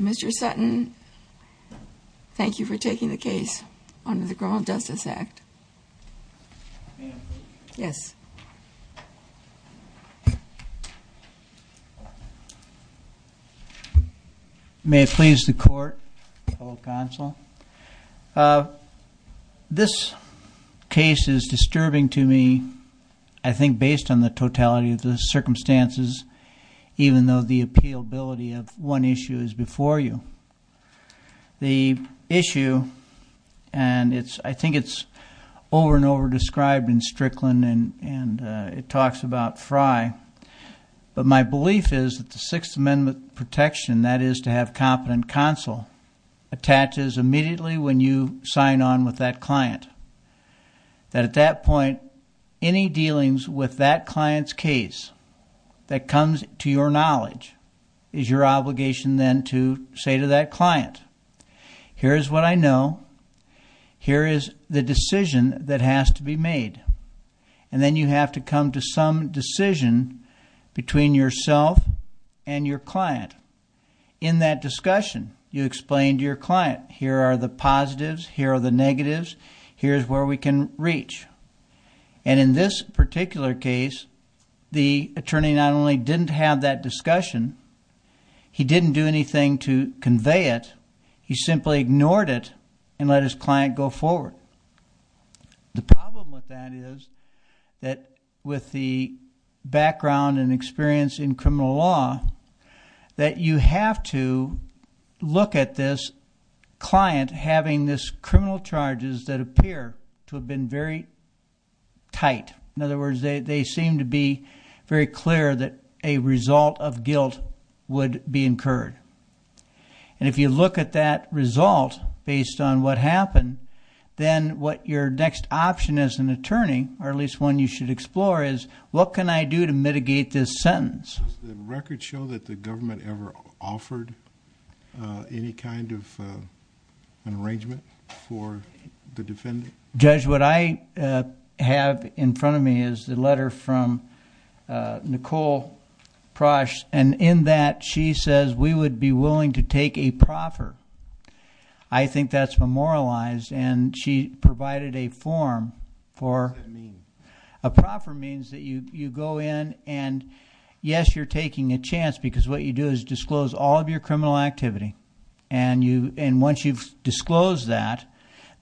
Mr. Sutton, thank you for taking the case under the Criminal Justice Act. May I please? Yes. May it please the Court, fellow Consul. This case is disturbing to me, I think, based on the totality of the circumstances, even though the appealability of one issue is before you. The issue, and I think it's over and over described in Strickland, and it talks about Frye, but my belief is that the Sixth Amendment protection, that is to have competent Consul, attaches immediately when you sign on with that client. That at that point, any dealings with that client's case that comes to your knowledge is your obligation then to say to that client, here is what I know, here is the decision that has to be made. And then you have to come to some decision between yourself and your client. In that discussion, you explain to your client, here are the positives, here are the negatives, here is where we can reach. And in this particular case, the attorney not only didn't have that discussion, he didn't do anything to convey it, he simply ignored it and let his client go forward. The problem with that is that with the background and experience in criminal law, that you have to look at this client having this criminal charges that appear to have been very tight. In other words, they seem to be very clear that a result of guilt would be incurred. And if you look at that result based on what happened, then what your next option as an attorney, or at least one you should explore, is what can I do to mitigate this sentence? Does the record show that the government ever offered any kind of an arrangement for the defendant? Judge, what I have in front of me is the letter from Nicole Prosh, and in that, she says, we would be willing to take a proffer. I think that's memorialized, and she provided a form for... What does that mean? A proffer means that you go in and, yes, you're taking a chance because what you do is disclose all of your criminal activity. And once you've disclosed that,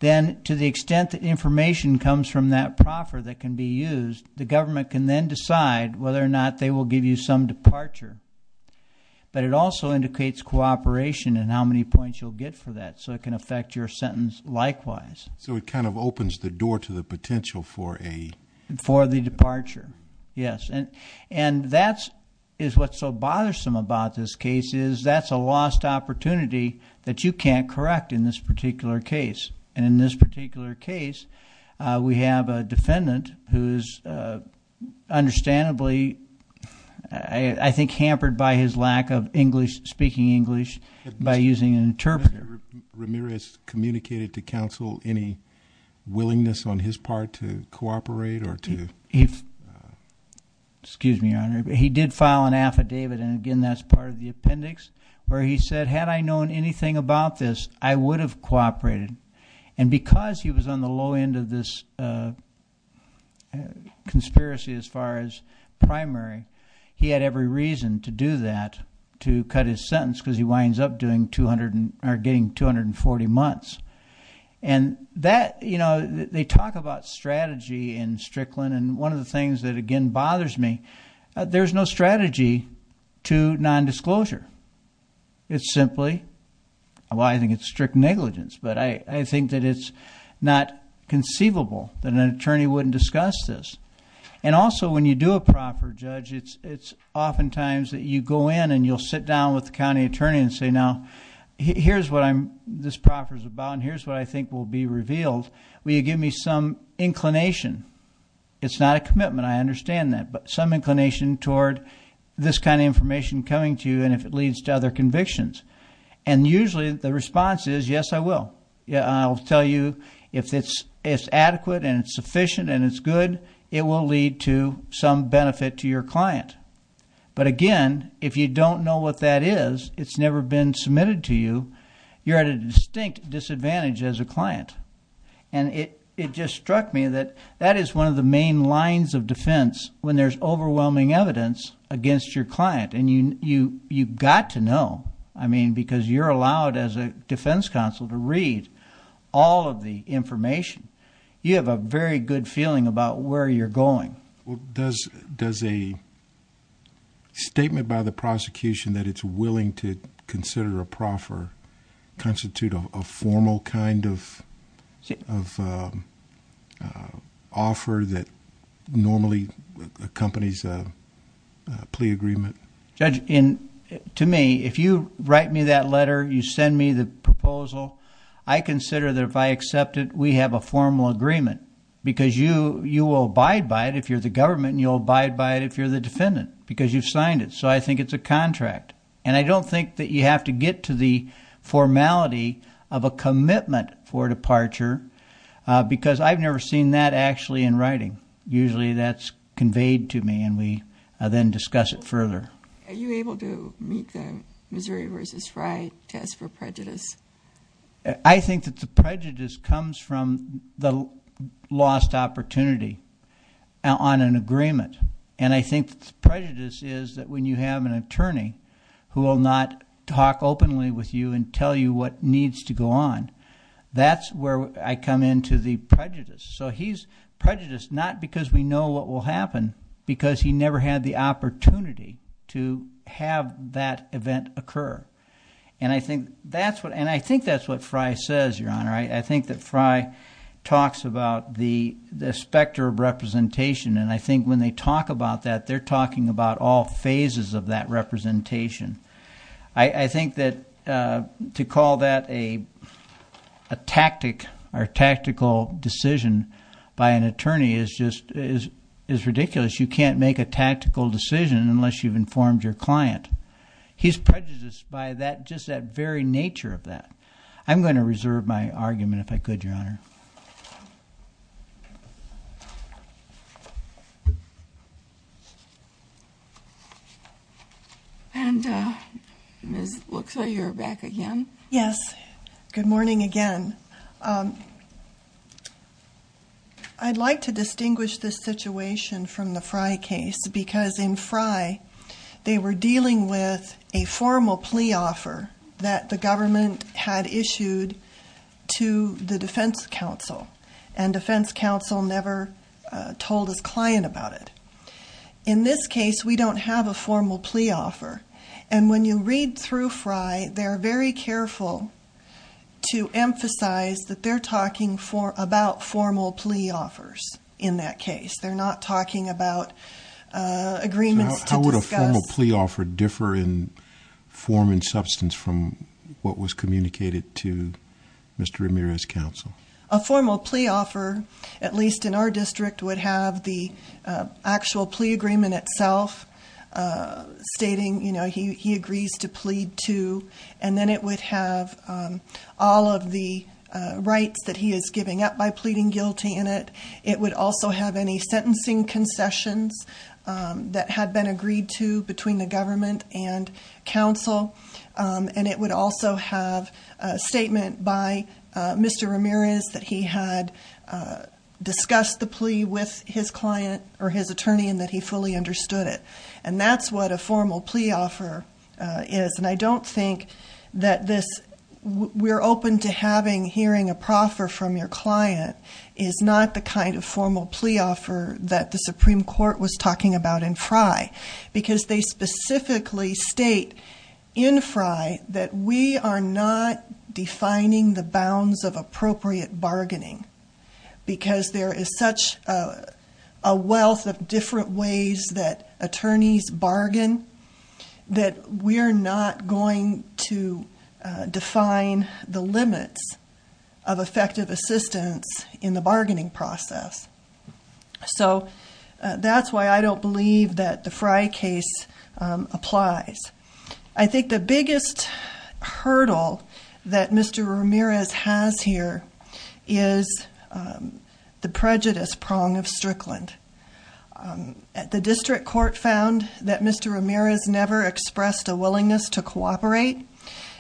then to the extent that information comes from that proffer that can be used, the government can then decide whether or not they will give you some departure. But it also indicates cooperation and how many points you'll get for that, so it can affect your sentence likewise. So it kind of opens the door to the potential for a... For the departure, yes. And that is what's so bothersome about this case is that's a lost opportunity that you can't correct in this particular case. And in this particular case, we have a defendant who is understandably, I think, hampered by his lack of English, speaking English, by using an interpreter. Has Mr. Ramirez communicated to counsel any willingness on his part to cooperate or to... Excuse me, Your Honor. He did file an affidavit, and again, that's part of the appendix, where he said, had I known anything about this, I would have cooperated. And because he was on the low end of this conspiracy as far as primary, he had every reason to do that, to cut his sentence, because he winds up getting 240 months. And that, you know, they talk about strategy in Strickland, and one of the things that again bothers me, there's no strategy to nondisclosure. It's simply... well, I think it's strict negligence, but I think that it's not conceivable that an attorney wouldn't discuss this. And also, when you do a proper judge, it's oftentimes that you go in and you'll sit down with the county attorney and say, now, here's what this proffer's about, and here's what I think will be revealed. Will you give me some inclination? It's not a commitment, I understand that, but some inclination toward this kind of information coming to you, and if it leads to other convictions. And usually, the response is, yes, I will. I'll tell you, if it's adequate and it's sufficient and it's good, it will lead to some benefit to your client. But again, if you don't know what that is, it's never been submitted to you, you're at a distinct disadvantage as a client. And it just struck me that that is one of the main lines of defense when there's overwhelming evidence against your client. And you've got to know, I mean, because you're allowed as a defense counsel to read all of the information. You have a very good feeling about where you're going. Does a statement by the prosecution that it's willing to consider a proffer constitute a formal kind of offer that normally accompanies a plea agreement? Judge, to me, if you write me that letter, you send me the proposal, I consider that if I accept it, we have a formal agreement. Because you will abide by it if you're the government, and you'll abide by it if you're the defendant, because you've signed it. So I think it's a contract. And I don't think that you have to get to the formality of a commitment for departure, because I've never seen that actually in writing. Usually, that's conveyed to me, and we then discuss it further. Are you able to meet the Missouri v. Fry test for prejudice? I think that the prejudice comes from the lost opportunity on an agreement. And I think the prejudice is that when you have an attorney who will not talk openly with you and tell you what needs to go on, that's where I come into the prejudice. So he's prejudiced not because we know what will happen, because he never had the opportunity to have that event occur. And I think that's what Fry says, Your Honor. I think that Fry talks about the specter of representation, and I think when they talk about that, they're talking about all phases of that representation. I think that to call that a tactic or tactical decision by an attorney is ridiculous. You can't make a tactical decision unless you've informed your client. He's prejudiced by just that very nature of that. I'm going to reserve my argument, if I could, Your Honor. And it looks like you're back again. Yes. Good morning again. I'd like to distinguish this situation from the Fry case, because in Fry, they were dealing with a formal plea offer that the government had issued to the defense counsel, and defense counsel never told his client about it. In this case, we don't have a formal plea offer. And when you read through Fry, they're very careful to emphasize that they're talking about formal plea offers in that case. They're not talking about agreements to discuss. How would a formal plea offer differ in form and substance from what was communicated to Mr. Ramirez's counsel? A formal plea offer, at least in our district, would have the actual plea agreement itself stating he agrees to plead to. And then it would have all of the rights that he is giving up by pleading guilty in it. It would also have any sentencing concessions that had been agreed to between the government and counsel. And it would also have a statement by Mr. Ramirez that he had discussed the plea with his client or his attorney and that he fully understood it. And that's what a formal plea offer is. And I don't think that this we're open to having hearing a proffer from your client is not the kind of formal plea offer that the Supreme Court was talking about in Fry. Because they specifically state in Fry that we are not defining the bounds of appropriate bargaining. Because there is such a wealth of different ways that attorneys bargain that we're not going to define the limits of effective assistance in the bargaining process. So that's why I don't believe that the Fry case applies. I think the biggest hurdle that Mr. Ramirez has here is the prejudice prong of Strickland. The district court found that Mr. Ramirez never expressed a willingness to cooperate,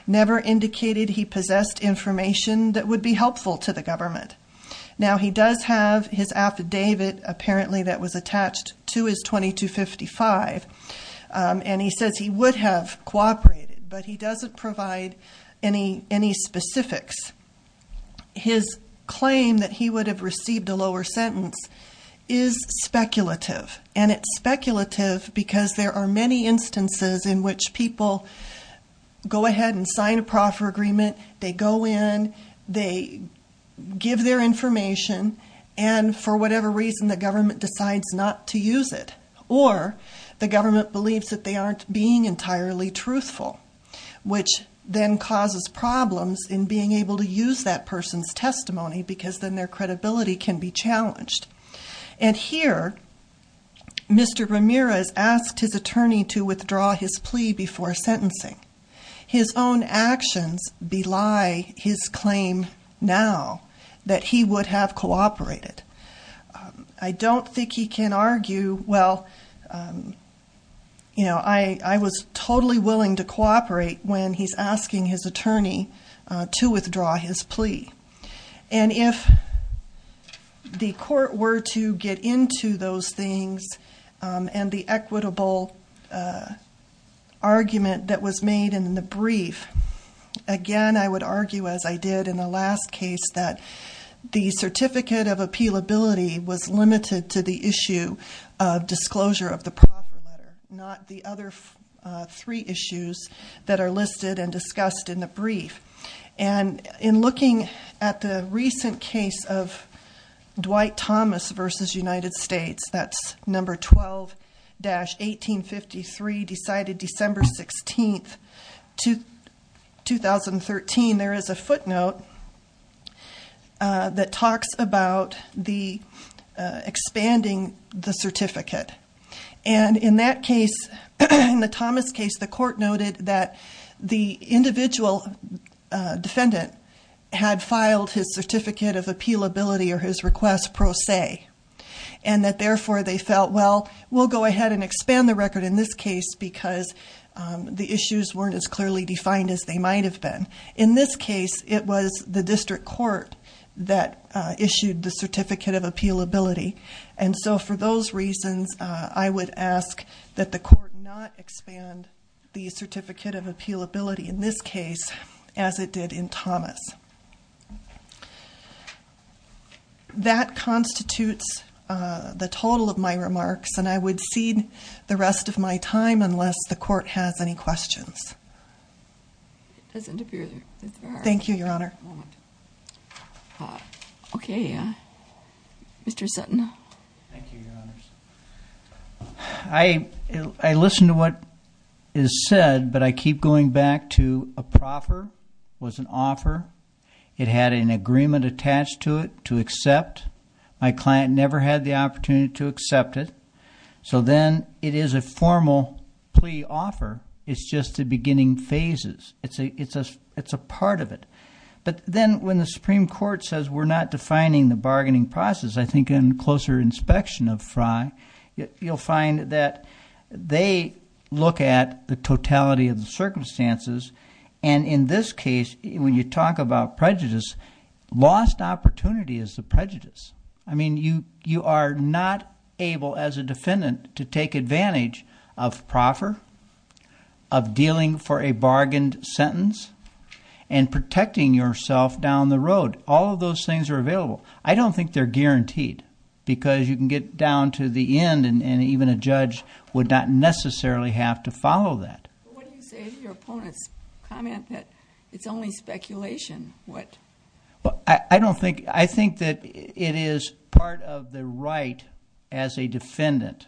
never indicated he possessed information that would be helpful to the government. Now he does have his affidavit apparently that was attached to his 2255. And he says he would have cooperated, but he doesn't provide any specifics. His claim that he would have received a lower sentence is speculative. And it's speculative because there are many instances in which people go ahead and sign a proffer agreement. They go in, they give their information, and for whatever reason the government decides not to use it. Or the government believes that they aren't being entirely truthful. Which then causes problems in being able to use that person's testimony because then their credibility can be challenged. And here, Mr. Ramirez asked his attorney to withdraw his plea before sentencing. His own actions belie his claim now that he would have cooperated. I don't think he can argue, well, I was totally willing to cooperate when he's asking his attorney to withdraw his plea. And if the court were to get into those things and the equitable argument that was made in the brief. Again, I would argue as I did in the last case that the certificate of appealability was limited to the issue of disclosure of the proffer letter, not the other three issues that are listed and discussed in the brief. And in looking at the recent case of Dwight Thomas versus United States, that's number 12-1853 decided December 16th, 2013. There is a footnote that talks about the expanding the certificate. And in that case, in the Thomas case, the court noted that the individual defendant had filed his certificate of appealability or his request pro se. And that therefore they felt, well, we'll go ahead and expand the record in this case because the issues weren't as clearly defined as they might have been. In this case, it was the district court that issued the certificate of appealability. And so for those reasons, I would ask that the court not expand the certificate of appealability in this case as it did in Thomas. That constitutes the total of my remarks and I would cede the rest of my time unless the court has any questions. Thank you, Your Honor. One moment. Okay. Mr. Sutton. Thank you, Your Honor. I listened to what is said, but I keep going back to a proffer was an offer. It had an agreement attached to it to accept. My client never had the opportunity to accept it. So then it is a formal plea offer. It's just the beginning phases. It's a part of it. But then when the Supreme Court says we're not defining the bargaining process, I think in closer inspection of Frye, you'll find that they look at the totality of the circumstances. And in this case, when you talk about prejudice, lost opportunity is the prejudice. I mean, you are not able as a defendant to take advantage of proffer, of dealing for a bargained sentence, and protecting yourself down the road. All of those things are available. I don't think they're guaranteed because you can get down to the end and even a judge would not necessarily have to follow that. What do you say to your opponent's comment that it's only speculation what... I don't think... I think that it is part of the right as a defendant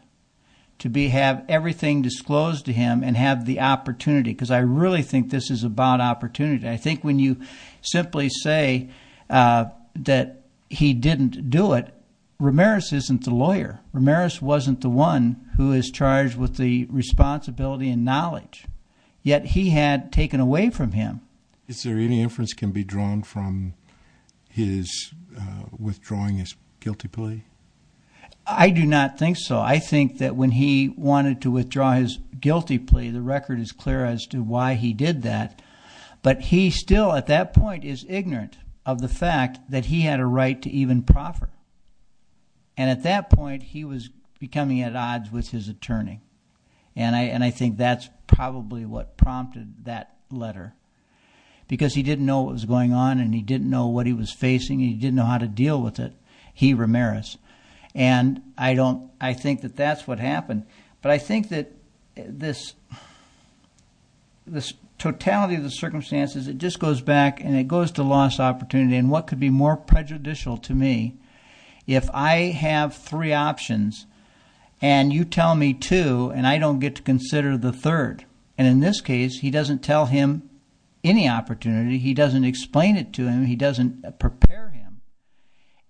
to have everything disclosed to him and have the opportunity because I really think this is about opportunity. I think when you simply say that he didn't do it, Ramirez isn't the lawyer. Ramirez wasn't the one who is charged with the responsibility and knowledge. Yet he had taken away from him. Is there any inference that can be drawn from his withdrawing his guilty plea? I do not think so. I think that when he wanted to withdraw his guilty plea, the record is clear as to why he did that, but he still at that point is ignorant of the fact that he had a right to even proffer. At that point, he was becoming at odds with his attorney. I think that's probably what prompted that letter because he didn't know what was going on and he didn't know what he was facing. He didn't know how to deal with it. He, Ramirez. And I think that that's what happened. But I think that this totality of the circumstances, it just goes back and it goes to lost opportunity and what could be more prejudicial to me if I have three options and you tell me two and I don't get to consider the third. And in this case, he doesn't tell him any opportunity. He doesn't explain it to him. He doesn't prepare him.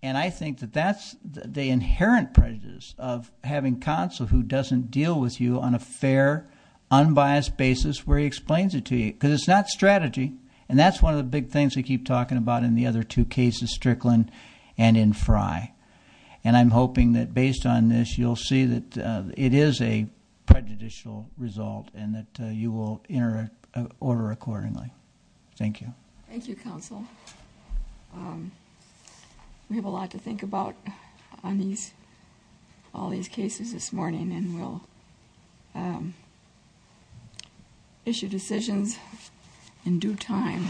And I think that that's the inherent prejudice of having counsel who doesn't deal with you on a fair, unbiased basis where he explains it to you because it's not strategy. And that's one of the big things we keep talking about in the other two cases, Strickland and in Frye. And I'm hoping that based on this, you'll see that it is a prejudicial result and that you will enter an order accordingly. Thank you. Thank you, counsel. We have a lot to think about on all these cases this morning and we'll issue decisions in due time.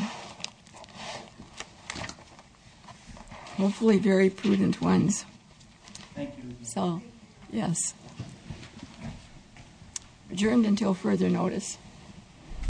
Hopefully very prudent ones. Thank you. So, yes. Adjourned until further notice.